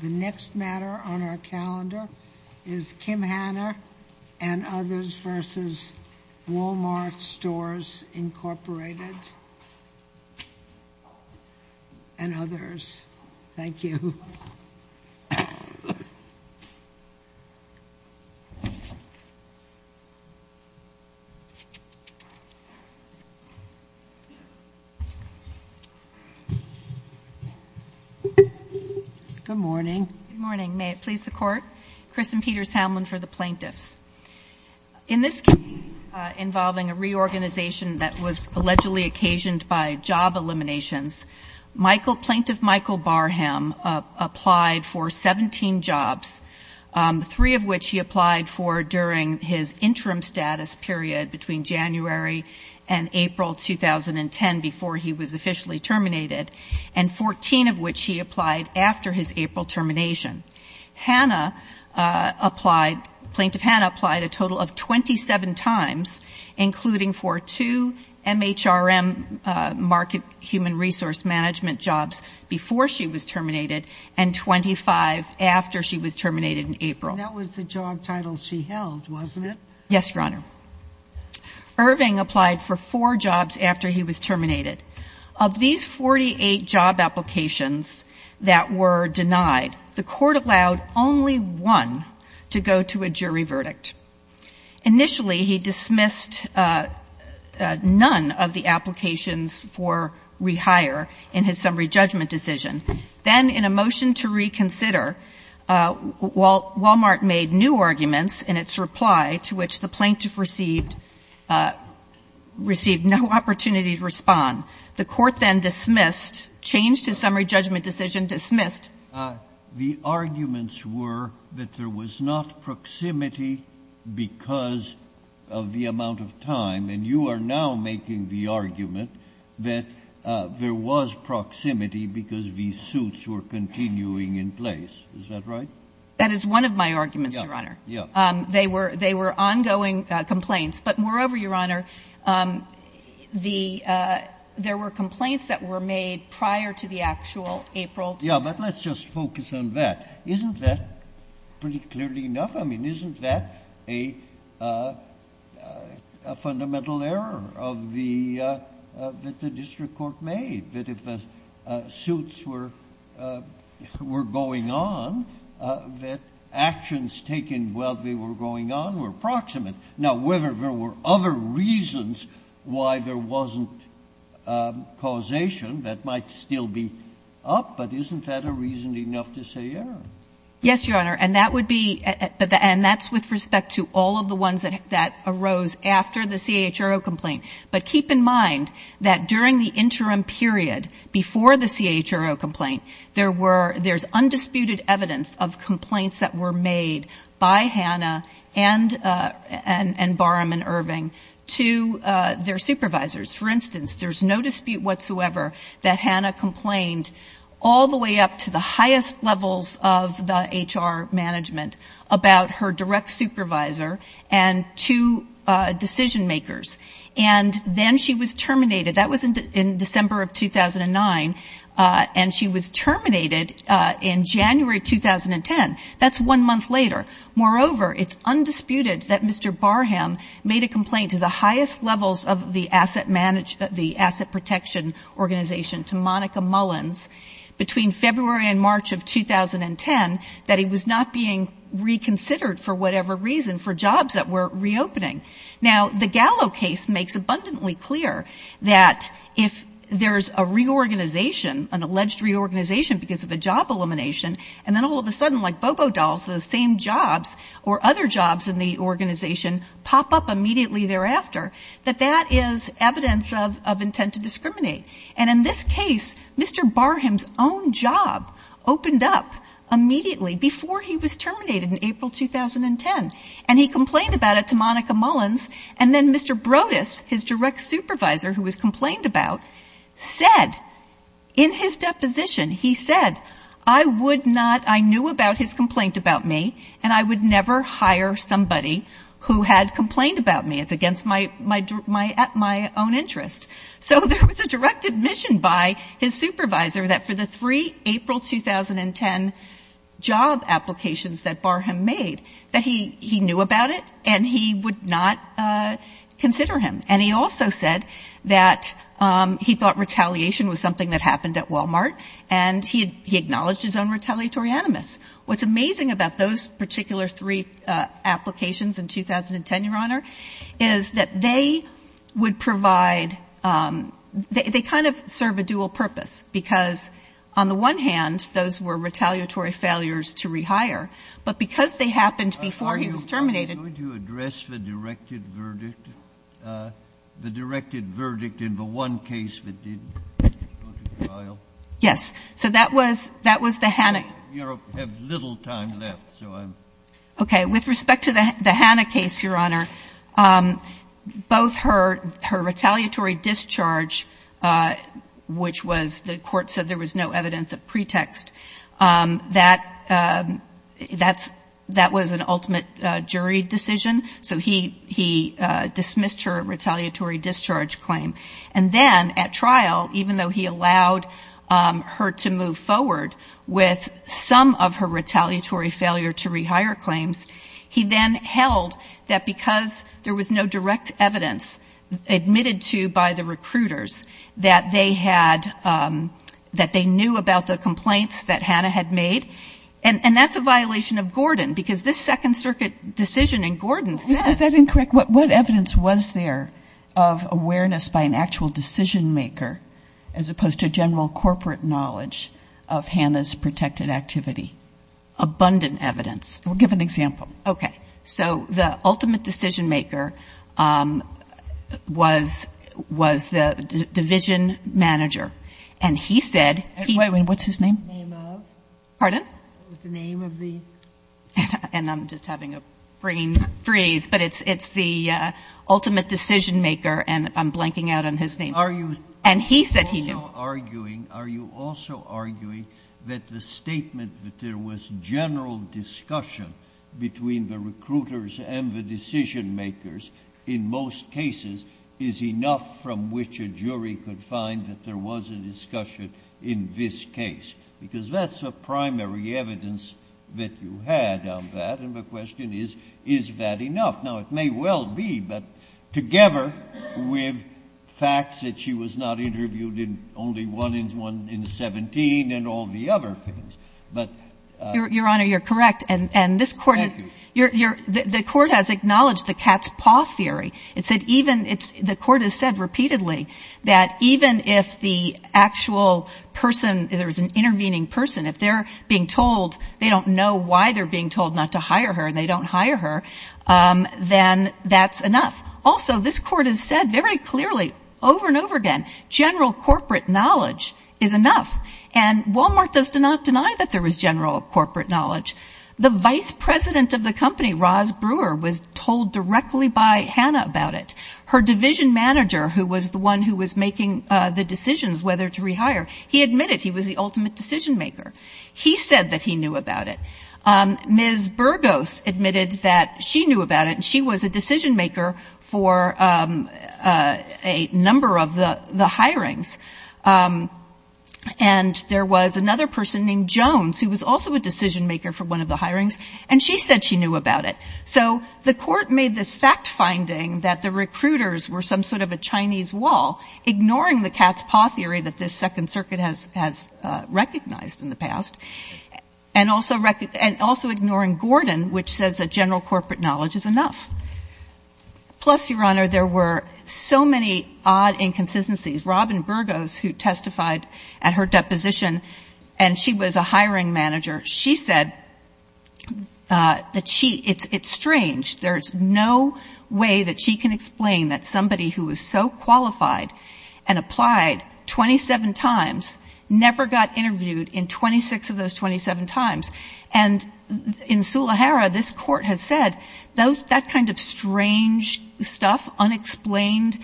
The next matter on our calendar is Kim Hanna and others versus Walmart Stores Incorporated and others. Thank you. Good morning. Good morning. May it please the Court? Chris and Peter Samlin for the plaintiffs. In this case involving a reorganization that was allegedly occasioned by job eliminations, Plaintiff Michael Barham applied for 17 jobs, three of which he applied for during his interim status period between January and April 2010 before he was officially terminated, and 14 of which he applied after his April termination. Hanna applied, Plaintiff Hanna applied a total of 27 times, including for two MHRM market human resource management jobs before she was terminated and 25 after she was terminated in April. That was the job title she held, wasn't it? Yes, Your Honor. Irving applied for four jobs after he was one to go to a jury verdict. Initially, he dismissed none of the applications for rehire in his summary judgment decision. Then in a motion to reconsider, Walmart made new arguments in its reply to which the plaintiff received no opportunity to respond. The Court then dismissed, changed his summary judgment decision, dismissed. The arguments were that there was not proximity because of the amount of time, and you are now making the argument that there was proximity because the suits were continuing in place. Is that right? That is one of my arguments, Your Honor. Yes. They were ongoing complaints. But moreover, Your Honor, the – there were complaints that were made prior to the actual April – Yes, but let's just focus on that. Isn't that pretty clearly enough? I mean, isn't that a fundamental error of the – that the district court made, that if the suits were going on, that actions taken while they were going on were proximate? Now, whether there were other reasons why there wasn't causation, that might still be up, but isn't that a reason enough to say error? Yes, Your Honor. And that would be – and that's with respect to all of the ones that arose after the CHRO complaint. But keep in mind that during the interim period, before the CHRO complaint, there were – there's undisputed evidence of complaints that were made by Hannah and Barham and Irving to their supervisors. For instance, there's no dispute whatsoever that Hannah complained all the way up to the highest levels of the HR management about her direct supervisor and two decision makers. And then she was terminated. That was in December of 2009. And she was terminated in January of 2010. That's one month later. Moreover, it's undisputed that Mr. Barham made a complaint to the highest levels of the asset – the asset protection organization, to Monica Mullins, between February and March of 2010, that he was not being reconsidered for whatever reason for jobs that were reopening. Now, the Gallo case makes abundantly clear that if there's a reorganization, an alleged reorganization because of a job elimination, and then all of a sudden, like Bobo Dolls, those same jobs or other jobs in the organization pop up immediately thereafter, that that is evidence of intent to discriminate. And in this case, Mr. Barham's own job opened up immediately before he was terminated in April 2010. And he complained about it to Monica Mullins, and then Mr. Brodus, his direct supervisor who was complained about, said in his deposition he said, I would not – I knew about his complaint about me, and I would never hire somebody who had complained about me. It's against my own interest. So there was a direct admission by his supervisor that for the three April 2010 job applications that Barham made, that he knew about it, and he would not consider him. And he also said that he thought retaliation was something that happened at Walmart, and he acknowledged his own retaliatory animus. What's amazing about those particular three applications in 2010, Your Honor, is that they would provide – they kind of serve a dual purpose, because on the one hand, those were retaliatory failures to rehire, but because they happened before he was terminated – The verdict in the one case that didn't go to trial? Yes. So that was – that was the Hannah – We have little time left, so I'm – Okay. With respect to the Hannah case, Your Honor, both her retaliatory discharge, which was – the Court said there was no evidence of pretext. That's – that was an ultimate jury decision. So he – he dismissed her retaliatory discharge claim. And then at trial, even though he allowed her to move forward with some of her retaliatory failure to rehire claims, he then held that because there was no direct evidence admitted to by the recruiters that they had – that they knew about the complaints that Hannah had made. And – and that's a violation of Gordon, because this Second Circuit decision in Gordon says – Is that incorrect? What – what evidence was there of awareness by an actual decision maker as opposed to general corporate knowledge of Hannah's protected activity? Abundant evidence. Well, give an example. Okay. So the ultimate decision maker was – was the division manager. And he said he – Wait a minute. What's his name? The name of? Pardon? What was the name of the – And I'm just having a brain freeze. But it's – it's the ultimate decision maker. And I'm blanking out on his name. Are you – And he said he knew. Are you also arguing – are you also arguing that the statement that there was general discussion between the recruiters and the decision makers in most cases is enough from which a jury could find that there was a discussion in this case? Because that's the primary evidence that you had on that. And the question is, is that enough? Now, it may well be, but together with facts that she was not interviewed in only one in – one in 17 and all the other things. But – Your Honor, you're correct. And – and this Court has – Thank you. You're – you're – the Court has acknowledged the cat's paw theory. It said even – it's – the Court has said repeatedly that even if the actual person – if there was an intervening person, if they're being told they don't know why they're being told not to hire her and they don't hire her, then that's enough. Also, this Court has said very clearly over and over again general corporate knowledge is enough. And Walmart does not deny that there was general corporate knowledge. The vice president of the company, Roz Brewer, was told directly by Hannah about it. Her division manager, who was the one who was making the decisions whether to rehire, he admitted he was the ultimate decision-maker. He said that he knew about it. Ms. Burgos admitted that she knew about it, and she was a decision-maker for a number of the – the hirings. And there was another person named Jones, who was also a decision-maker for one of the hirings, and she said she knew about it. So the Court made this fact-finding that the recruiters were some sort of a Chinese wall, ignoring the cat's paw theory that this Second Circuit has – has recognized in the past, and also – and also ignoring Gordon, which says that general corporate knowledge is enough. Plus, Your Honor, there were so many odd inconsistencies. Robin Burgos, who testified at her deposition, and she was a hiring manager, she said that she – it's strange. There's no way that she can explain that somebody who is so qualified and applied 27 times never got interviewed in 26 of those 27 times. And in Sulahera, this Court has said those – that kind of strange stuff, unexplained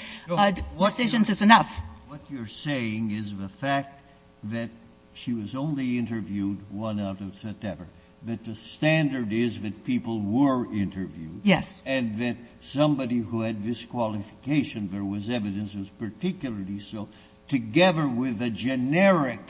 decisions is enough. What you're saying is the fact that she was only interviewed one out of seven, that the standard is that people were interviewed. Yes. And that somebody who had this qualification, there was evidence it was particularly so, together with a generic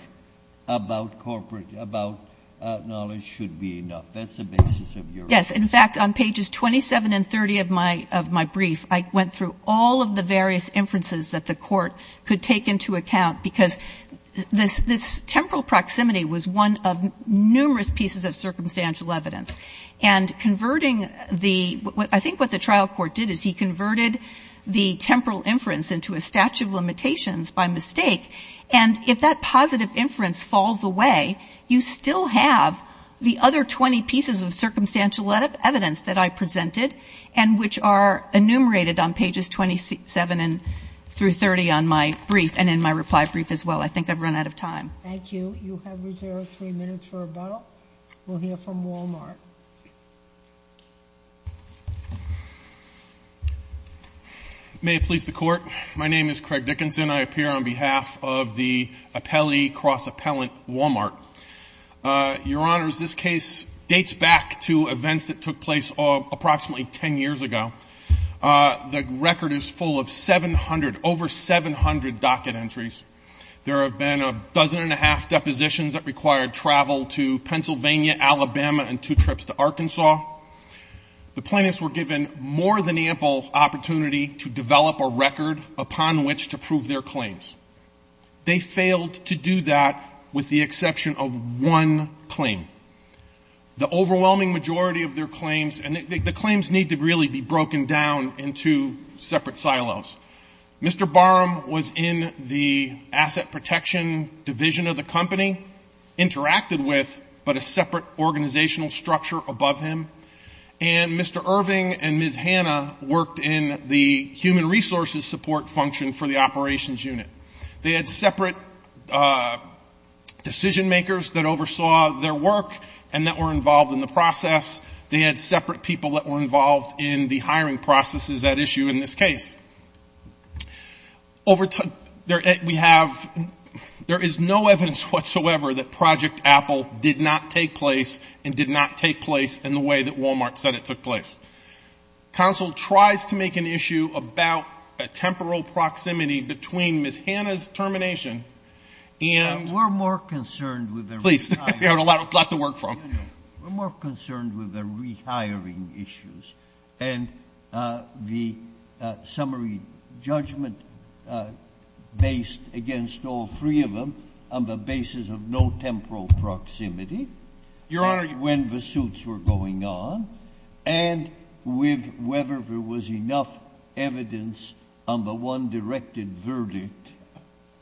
about corporate – about knowledge should be enough. That's the basis of your argument. Yes. In fact, on pages 27 and 30 of my – of my brief, I went through all of the various inferences that the Court could take into account, because this – this temporal proximity was one of numerous pieces of circumstantial evidence. And converting the – I think what the trial court did is he converted the temporal inference into a statute of limitations by mistake. And if that positive inference falls away, you still have the other 20 pieces of circumstantial evidence that I presented and which are enumerated on pages 27 through 30 on my brief and in my reply brief as well. I think I've run out of time. Thank you. You have reserved three minutes for rebuttal. We'll hear from Walmart. May it please the Court. My name is Craig Dickinson. I appear on behalf of the appellee cross-appellant Walmart. Your Honors, this case dates back to events that occurred only 10 years ago. The record is full of 700 – over 700 docket entries. There have been a dozen and a half depositions that required travel to Pennsylvania, Alabama, and two trips to Arkansas. The plaintiffs were given more than ample opportunity to develop a record upon which to prove their claims. They failed to do that with the exception of one claim. The overwhelming majority of their claims – the claims need to really be broken down into separate silos. Mr. Barham was in the asset protection division of the company, interacted with, but a separate organizational structure above him. And Mr. Irving and Ms. Hanna worked in the human resources support function for the operations unit. They had separate decision makers that oversaw their work and that were involved in the process. They had separate people that were involved in the hiring processes at issue in this case. Over – we have – there is no evidence whatsoever that Project Apple did not take place and did not take place in the way that Walmart said it took place. Counsel tries to make an issue about a temporal proximity between Ms. Hanna's termination and – We're more concerned with – Please. You have a lot to work from. We're more concerned with the rehiring issues and the summary judgment based against all three of them on the basis of no temporal proximity. Your Honor – And when the suits were going on, and with whether there was enough evidence on the one directed verdict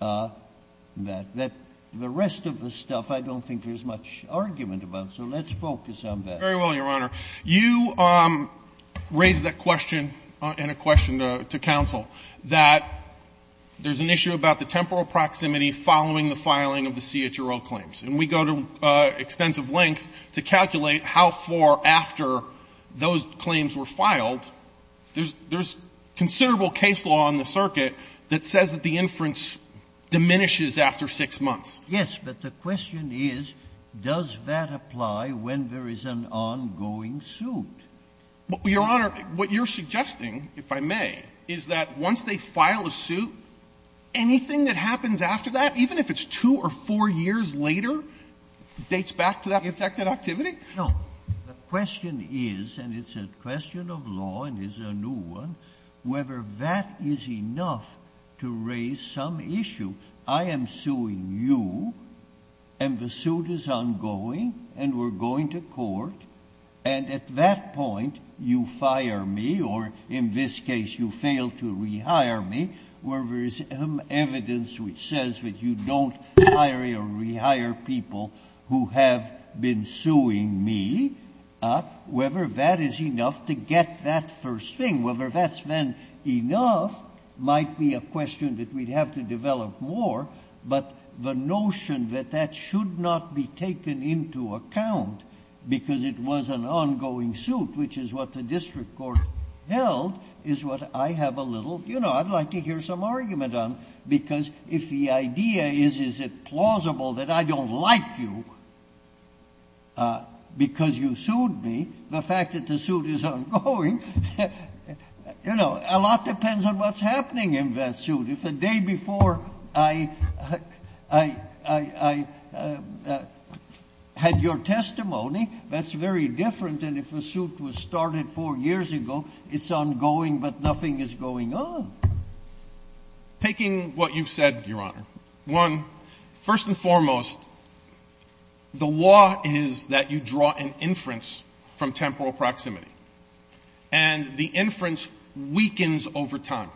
that the rest of the stuff – I don't think there's much argument about, so let's focus on that. Very well, Your Honor. You raised that question in a question to counsel, that there's an issue about the temporal proximity following the filing of the CHRO claims. And we go to extensive lengths to calculate how far after those claims were filed. There's considerable case law on the circuit that says that the inference diminishes after 6 months. Yes. But the question is, does that apply when there is an ongoing suit? Your Honor, what you're suggesting, if I may, is that once they file a suit, anything that happens after that, even if it's two or four years later, dates back to that infected activity? No. The question is, and it's a question of law and is a new one, whether that is enough to raise some issue. I am suing you, and the suit is ongoing, and we're going to court, and at that point you fire me, or in this case you fail to rehire me, whether there is evidence which says that you don't hire or rehire people who have been suing me, whether that is enough to get that first thing. Whether that's then enough might be a question that we'd have to develop more, but the notion that that should not be taken into account because it was an ongoing suit, which is what the district court held, is what I have a little, you know, I'd like to hear some argument on. Because if the idea is, is it plausible that I don't like you because you sued me, the fact that the suit is ongoing, you know, a lot depends on what's happening in that suit. If the day before I had your testimony, that's very different than if a suit was started four years ago. It's ongoing, but nothing is going on. Taking what you've said, Your Honor, one, first and foremost, the law is that you draw an inference from temporal proximity, and the inference weakens over time.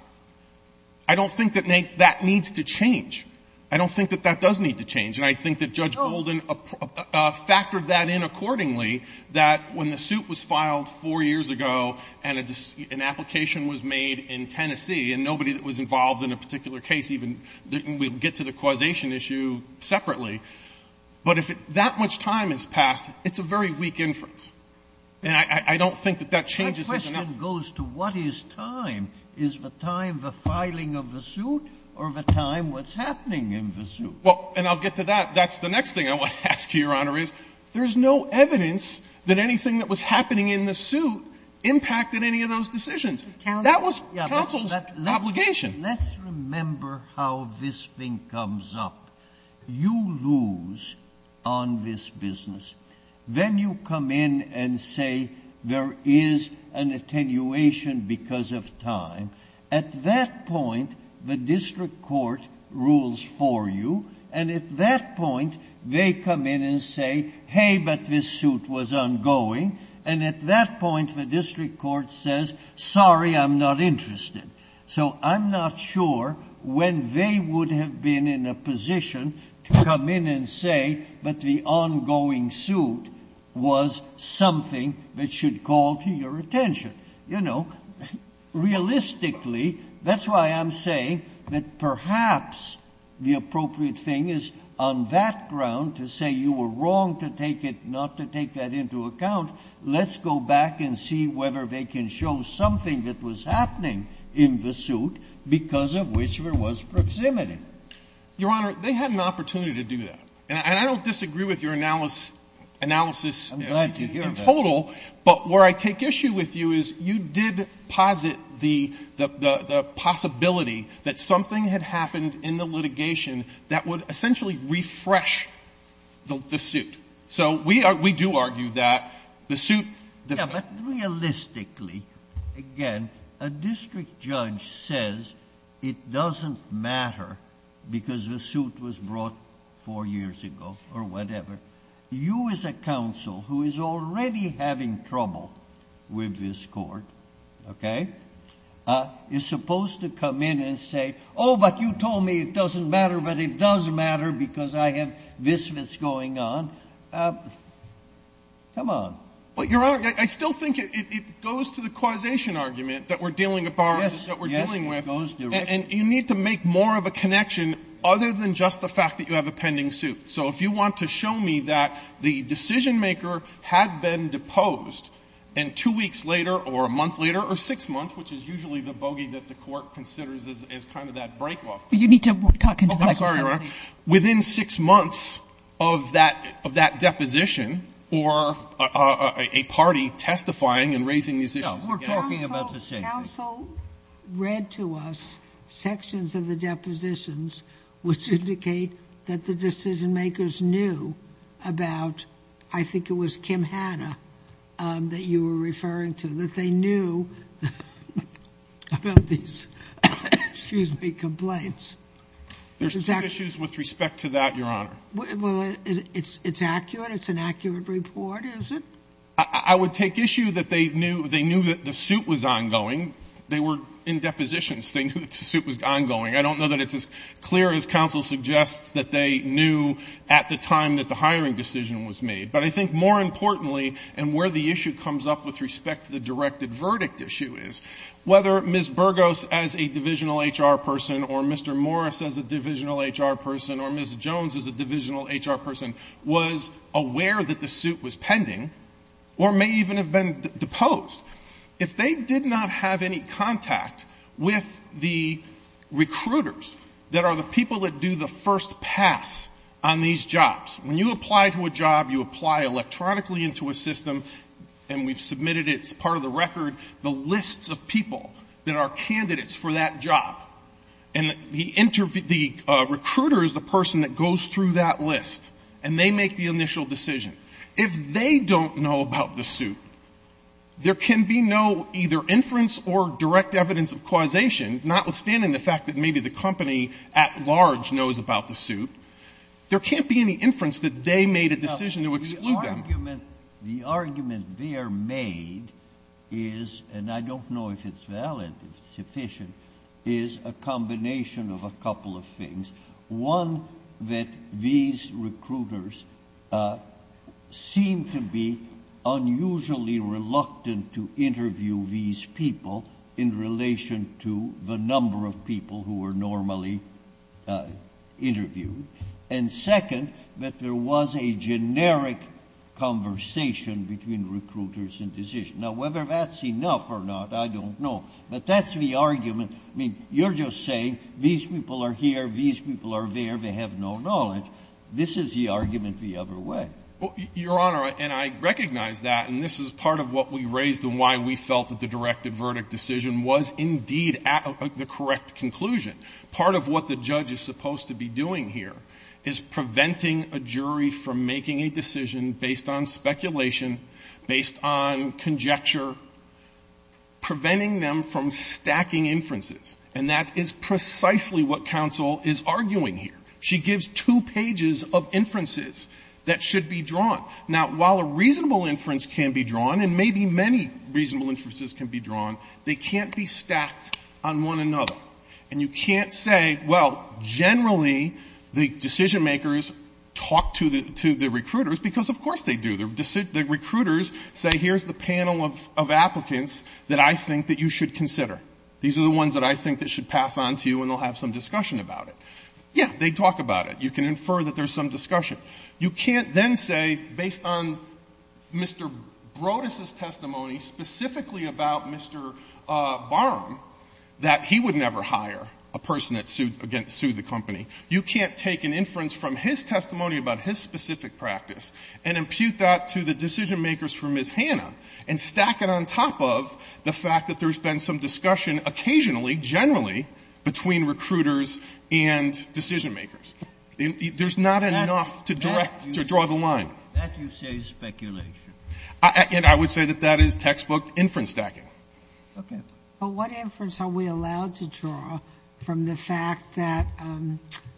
I don't think that that needs to change. I don't think that that does need to change. And I think that Judge Olden factored that in accordingly, that when the suit was filed four years ago and an application was made in Tennessee and nobody that was And I don't think that that changes. My question goes to what is time. Is the time the filing of the suit or the time what's happening in the suit? Well, and I'll get to that. That's the next thing I want to ask you, Your Honor, is there's no evidence that anything that was happening in the suit impacted any of those decisions. That was counsel's obligation. Let's remember how this thing comes up. You lose on this business. Then you come in and say there is an attenuation because of time. At that point, the district court rules for you. And at that point, they come in and say, hey, but this suit was ongoing. And at that point, the district court says, sorry, I'm not interested. So I'm not sure when they would have been in a position to come in and say, but the ongoing suit was something that should call to your attention. Realistically, that's why I'm saying that perhaps the appropriate thing is on that ground to say you were wrong to take it not to take that into account. Let's go back and see whether they can show something that was happening in the suit because of which there was proximity. Your Honor, they had an opportunity to do that. And I don't disagree with your analysis in total. But where I take issue with you is you did posit the possibility that something had happened in the litigation that would essentially refresh the suit. So we do argue that the suit- Yeah, but realistically, again, a district judge says it doesn't matter because the suit was brought four years ago or whatever. You as a counsel who is already having trouble with this court, okay? You're supposed to come in and say, but you told me it doesn't matter, but it does matter because I have this and this going on. Come on. But, Your Honor, I still think it goes to the causation argument that we're dealing with. Yes, yes, it goes directly- And you need to make more of a connection other than just the fact that you have a pending suit. So if you want to show me that the decision maker had been deposed, and two weeks later, or a month later, or six months, which is usually the bogey that the court considers as kind of that break-off- You need to talk into the microphone. I'm sorry, Your Honor. Within six months of that deposition, or a party testifying and raising these issues together- No, we're talking about the same thing. Counsel read to us sections of the depositions which indicate that the decision makers knew about, I think it was Kim Hanna that you were referring to, that they knew about these, excuse me, complaints. There's two issues with respect to that, Your Honor. Well, it's accurate. It's an accurate report, is it? I would take issue that they knew that the suit was ongoing. They were in depositions. They knew that the suit was ongoing. I don't know that it's as clear as counsel suggests that they knew at the time that the hiring decision was made. But I think more importantly, and where the issue comes up with respect to the directed verdict issue is, whether Ms. Burgos as a divisional HR person, or Mr. Morris as a divisional HR person, or Ms. Jones as a divisional HR person, was aware that the suit was pending, or may even have been deposed. If they did not have any contact with the recruiters that are the people that do the first pass on these jobs. When you apply to a job, you apply electronically into a system, and we've submitted it as part of the record, the lists of people that are candidates for that job. And the recruiters, the person that goes through that list, and they make the initial decision. If they don't know about the suit, there can be no either inference or direct evidence of causation, notwithstanding the fact that maybe the company at large knows about the suit. There can't be any inference that they made a decision to exclude them. Breyer. The argument they are made is, and I don't know if it's valid, if it's sufficient, is a combination of a couple of things. One, that these recruiters seem to be unusually reluctant to interview these people in relation to the number of people who are normally interviewed. And second, that there was a generic conversation between recruiters and decision. Now, whether that's enough or not, I don't know. But that's the argument. I mean, you're just saying these people are here, these people are there, they have no knowledge. This is the argument the other way. Your Honor, and I recognize that, and this is part of what we raised and why we felt that the directed verdict decision was indeed the correct conclusion. Part of what the judge is supposed to be doing here is preventing a jury from making a decision based on speculation, based on conjecture, preventing them from stacking inferences. And that is precisely what counsel is arguing here. She gives two pages of inferences that should be drawn. Now, while a reasonable inference can be drawn, and maybe many reasonable inferences can be drawn, they can't be stacked on one another. And you can't say, well, generally, the decision-makers talk to the recruiters, because of course they do. The recruiters say, here's the panel of applicants that I think that you should consider. These are the ones that I think that should pass on to you, and they'll have some discussion about it. Yeah, they talk about it. You can infer that there's some discussion. You can't then say, based on Mr. Broadus' testimony, specifically about Mr. Barham, that he would never hire a person that sued the company. You can't take an inference from his testimony about his specific practice and impute that to the decision-makers for Ms. Hanna and stack it on top of the fact that there's been some discussion occasionally, generally, between recruiters and decision-makers. There's not enough to direct, to draw the line. That you say is speculation. And I would say that that is textbook inference stacking. Okay. But what inference are we allowed to draw from the fact that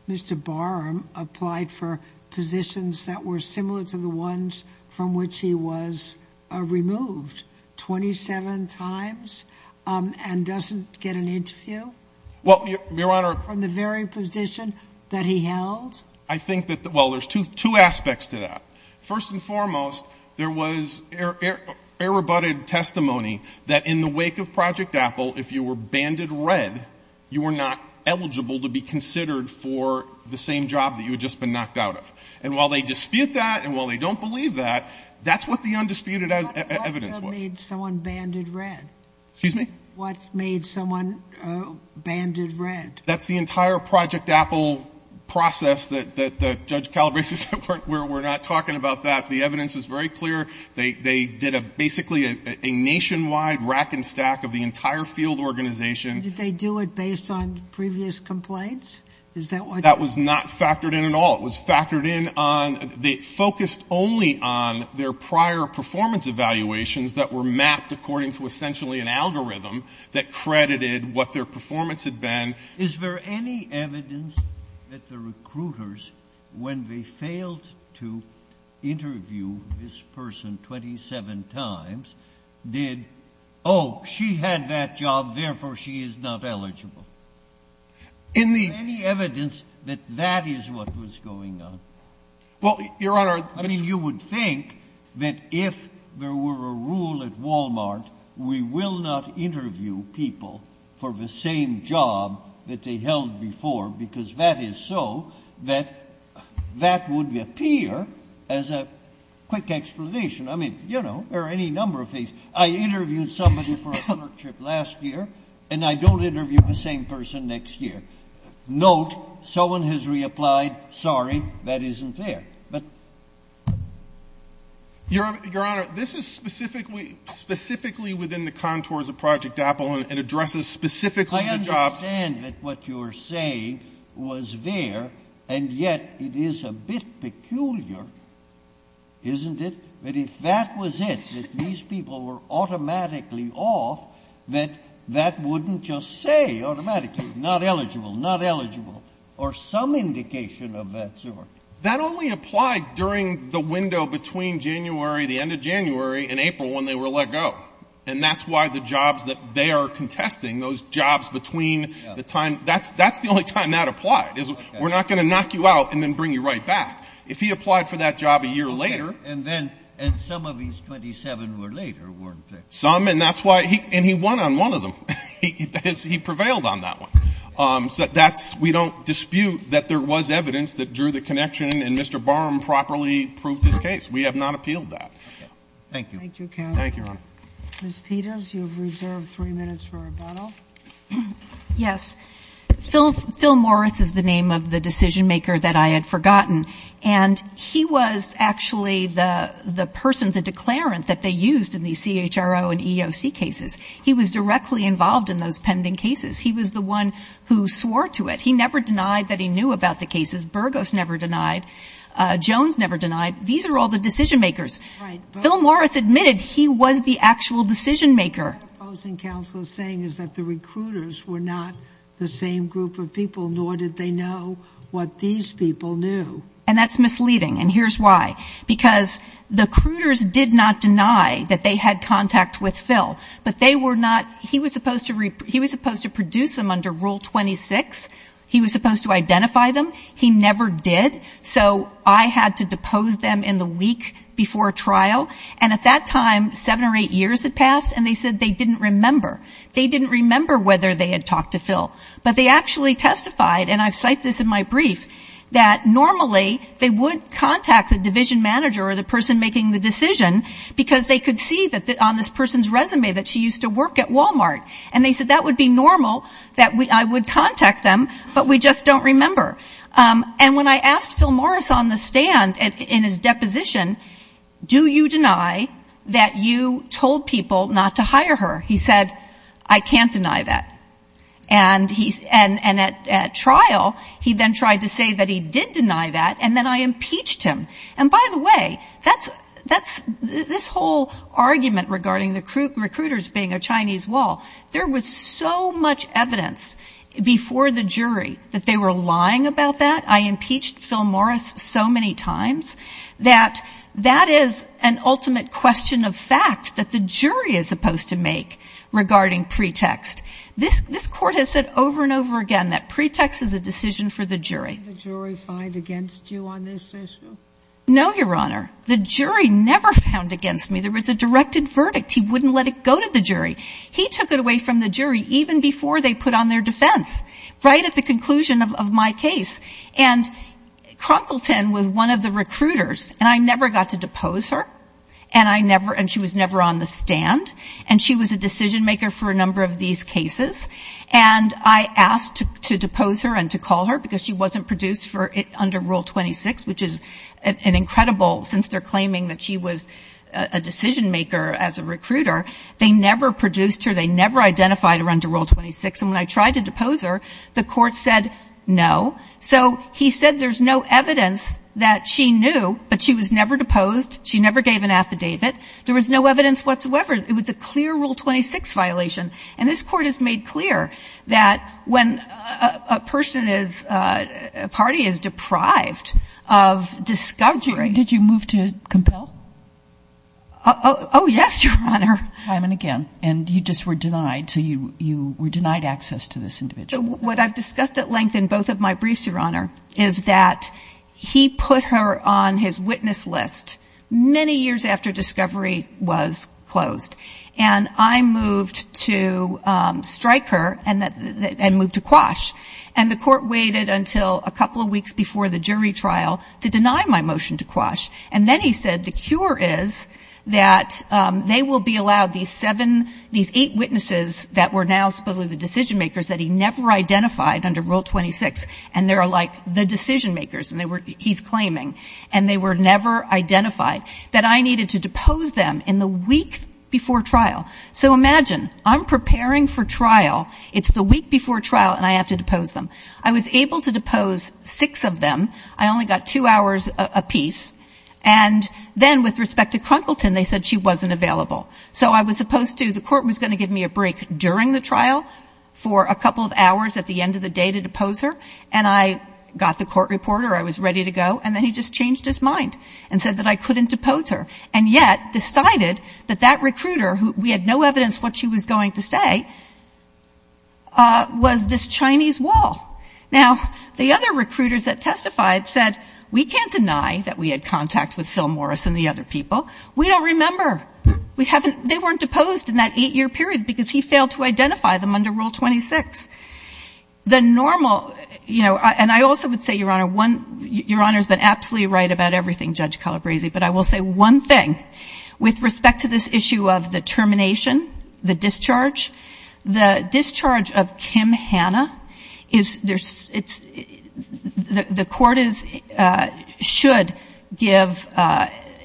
Mr. Barham applied for positions that were similar to the ones from which he was removed 27 times and doesn't get an interview? Well, Your Honor — From the very position that he held? I think that — well, there's two aspects to that. First and foremost, there was error-butted testimony that in the wake of Project Apple, if you were banded red, you were not eligible to be considered for the same job that you had just been knocked out of. And while they dispute that and while they don't believe that, that's what the undisputed evidence was. What made someone banded red? Excuse me? What made someone banded red? That's the entire Project Apple process that Judge Calabresi said we're not talking about that. The evidence is very clear. They did a — basically a nationwide rack-and-stack of the entire field organization — Did they do it based on previous complaints? Is that what — That was not factored in at all. It was factored in on — they focused only on their prior performance evaluations that were mapped according to essentially an algorithm that credited what their performance had been. Is there any evidence that the recruiters, when they failed to interview this person 27 times, did, oh, she had that job, therefore she is not eligible? In the — Is there any evidence that that is what was going on? Well, Your Honor — I mean, you would think that if there were a rule at Walmart, we will not interview people for the same job that they held before, because that is so, that that would appear as a quick explanation. I mean, you know, there are any number of things. I interviewed somebody for a clerkship last year, and I don't interview the same person next year. Note, someone has reapplied, sorry, that isn't there. But — But it is specifically — specifically within the contours of Project Apple, and it addresses specifically the jobs — I understand that what you are saying was there, and yet it is a bit peculiar, isn't it, that if that was it, that these people were automatically off, that that wouldn't just say automatically, not eligible, not eligible, or some indication of that sort. That only applied during the window between January, the end of January, and April when they were let go. And that's why the jobs that they are contesting, those jobs between the time — that's the only time that applied, is we're not going to knock you out and then bring you right back. If he applied for that job a year later — Okay. And then — and some of these 27 were later, weren't they? Some, and that's why — and he won on one of them. He prevailed on that one. So that's — we don't dispute that there was evidence that drew the connection and Mr. Barham properly proved his case. We have not appealed that. Okay. Thank you. Thank you, counsel. Thank you, Your Honor. Ms. Peters, you have reserved three minutes for rebuttal. Yes. Phil — Phil Morris is the name of the decision-maker that I had forgotten. And he was actually the person, the declarant that they used in these CHRO and EEOC cases. He was directly involved in those pending cases. He was the one who swore to it. He never denied that he knew about the cases. Burgos never denied. Jones never denied. These are all the decision-makers. Right. Phil Morris admitted he was the actual decision-maker. What I'm opposing, counsel, is saying is that the recruiters were not the same group of people, nor did they know what these people knew. And that's misleading. And here's why. Because the recruiters did not deny that they had contact with Phil. But they were not — he was supposed to — he was supposed to introduce them under Rule 26. He was supposed to identify them. He never did. So I had to depose them in the week before trial. And at that time, seven or eight years had passed, and they said they didn't remember. They didn't remember whether they had talked to Phil. But they actually testified — and I've cited this in my brief — that normally they would contact the division manager or the person making the decision because they could see that on this person's resume that she used to work at Walmart. And they said that would be normal, that I would contact them, but we just don't remember. And when I asked Phil Morris on the stand in his deposition, do you deny that you told people not to hire her? He said, I can't deny that. And he — and at trial, he then tried to say that he did deny that, and then I impeached him. And by the way, that's — this whole argument regarding the recruiters being a Chinese wall, there was so much evidence before the jury that they were lying about that — I impeached Phil Morris so many times — that that is an ultimate question of fact that the jury is supposed to make regarding pretext. This court has said over and over again that pretext is a decision for the jury. No, Your Honor. The jury never found against me. There was a directed verdict. He wouldn't let it go to the jury. He took it away from the jury even before they put on their defense, right at the conclusion of my case. And Cronkleton was one of the recruiters, and I never got to depose her, and I never — and she was never on the stand. And she was a decision-maker for a number of these cases. And I asked to depose her and to call her because she wasn't produced for — under Rule 26, which is an incredible — since they're claiming that she was a decision-maker as a recruiter, they never produced her, they never identified her under Rule 26. And when I tried to depose her, the court said no. So he said there's no evidence that she knew, but she was never deposed, she never gave an affidavit, there was no evidence whatsoever. It was a clear Rule 26 violation. And this court has made clear that when a person is — a party is deprived of discovery — Did you move to compel? Oh, yes, Your Honor. Time and again. And you just were denied, so you were denied access to this individual. What I've discussed at length in both of my briefs, Your Honor, is that he put her on his witness list many years after discovery was closed. And I moved to strike her and moved to quash. And the court waited until a couple of weeks before the jury trial to deny my motion to quash. And then he said the cure is that they will be allowed, these seven — these eight witnesses that were now supposedly the decision-makers that he never identified under Rule 26, and they're like the decision-makers, and they were — he's claiming, and they were never identified, that I needed to depose them in the week before trial. So imagine, I'm preparing for trial. It's the week before trial, and I have to depose them. I was able to depose six of them. I only got two hours apiece. And then, with respect to Crunkleton, they said she wasn't available. So I was supposed to — the court was going to give me a break during the trial for a couple of hours at the end of the day to depose her. And I got the court reporter. I was ready to go. And then he just changed his mind and said that I couldn't depose her, and yet decided that that recruiter, who — we had no evidence what she was going to say, was this Chinese wall. Now, the other recruiters that testified said, we can't deny that we had contact with Phil Morris and the other people. We don't remember. We haven't — they weren't deposed in that eight-year period because he failed to identify them under Rule 26. The normal — you know, and I also would say, Your Honor, one — Your Honor's been absolutely right about everything, Judge Calabresi, but I will say one thing. With respect to this issue of the termination, the discharge, the discharge of Kim Hanna is — it's — the court is — should give —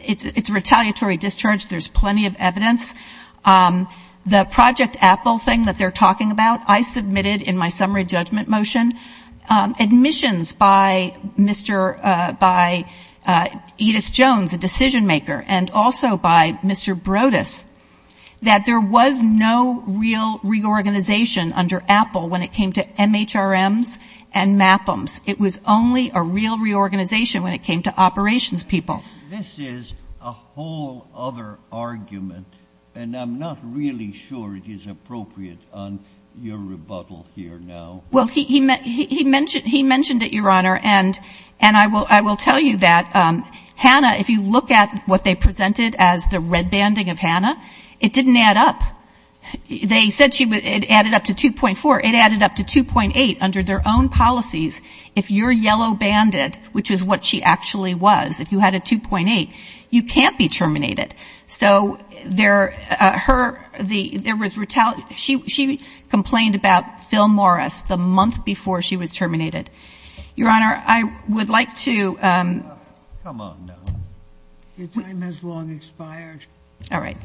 it's a retaliatory discharge. There's plenty of evidence. The Project Apple thing that they're talking about, I submitted in my summary judgment motion admissions by Mr. — by Edith Jones, a decision-maker, and also by Mr. Brodus, that there was no real reorganization under Apple when it came to MHRMs and MAPMs. It was only a real reorganization when it came to operations people. This is a whole other argument, and I'm not really sure it is appropriate on your rebuttal here now. Well, he mentioned — he mentioned it, Your Honor, and I will tell you that Hanna, if you look at what they presented as the red banding of Hanna, it didn't add up. They said she — it added up to 2.4. It added up to 2.8 under their own policies. If you're yellow-banded, which is what she actually was, if you had a 2.8, you can't be terminated. So there — her — the — there was — she complained about Phil Morris the month before she was terminated. Your Honor, I would like to — Come on now. Your time has long expired. All right.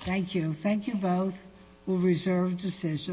Thank you. Thank you both.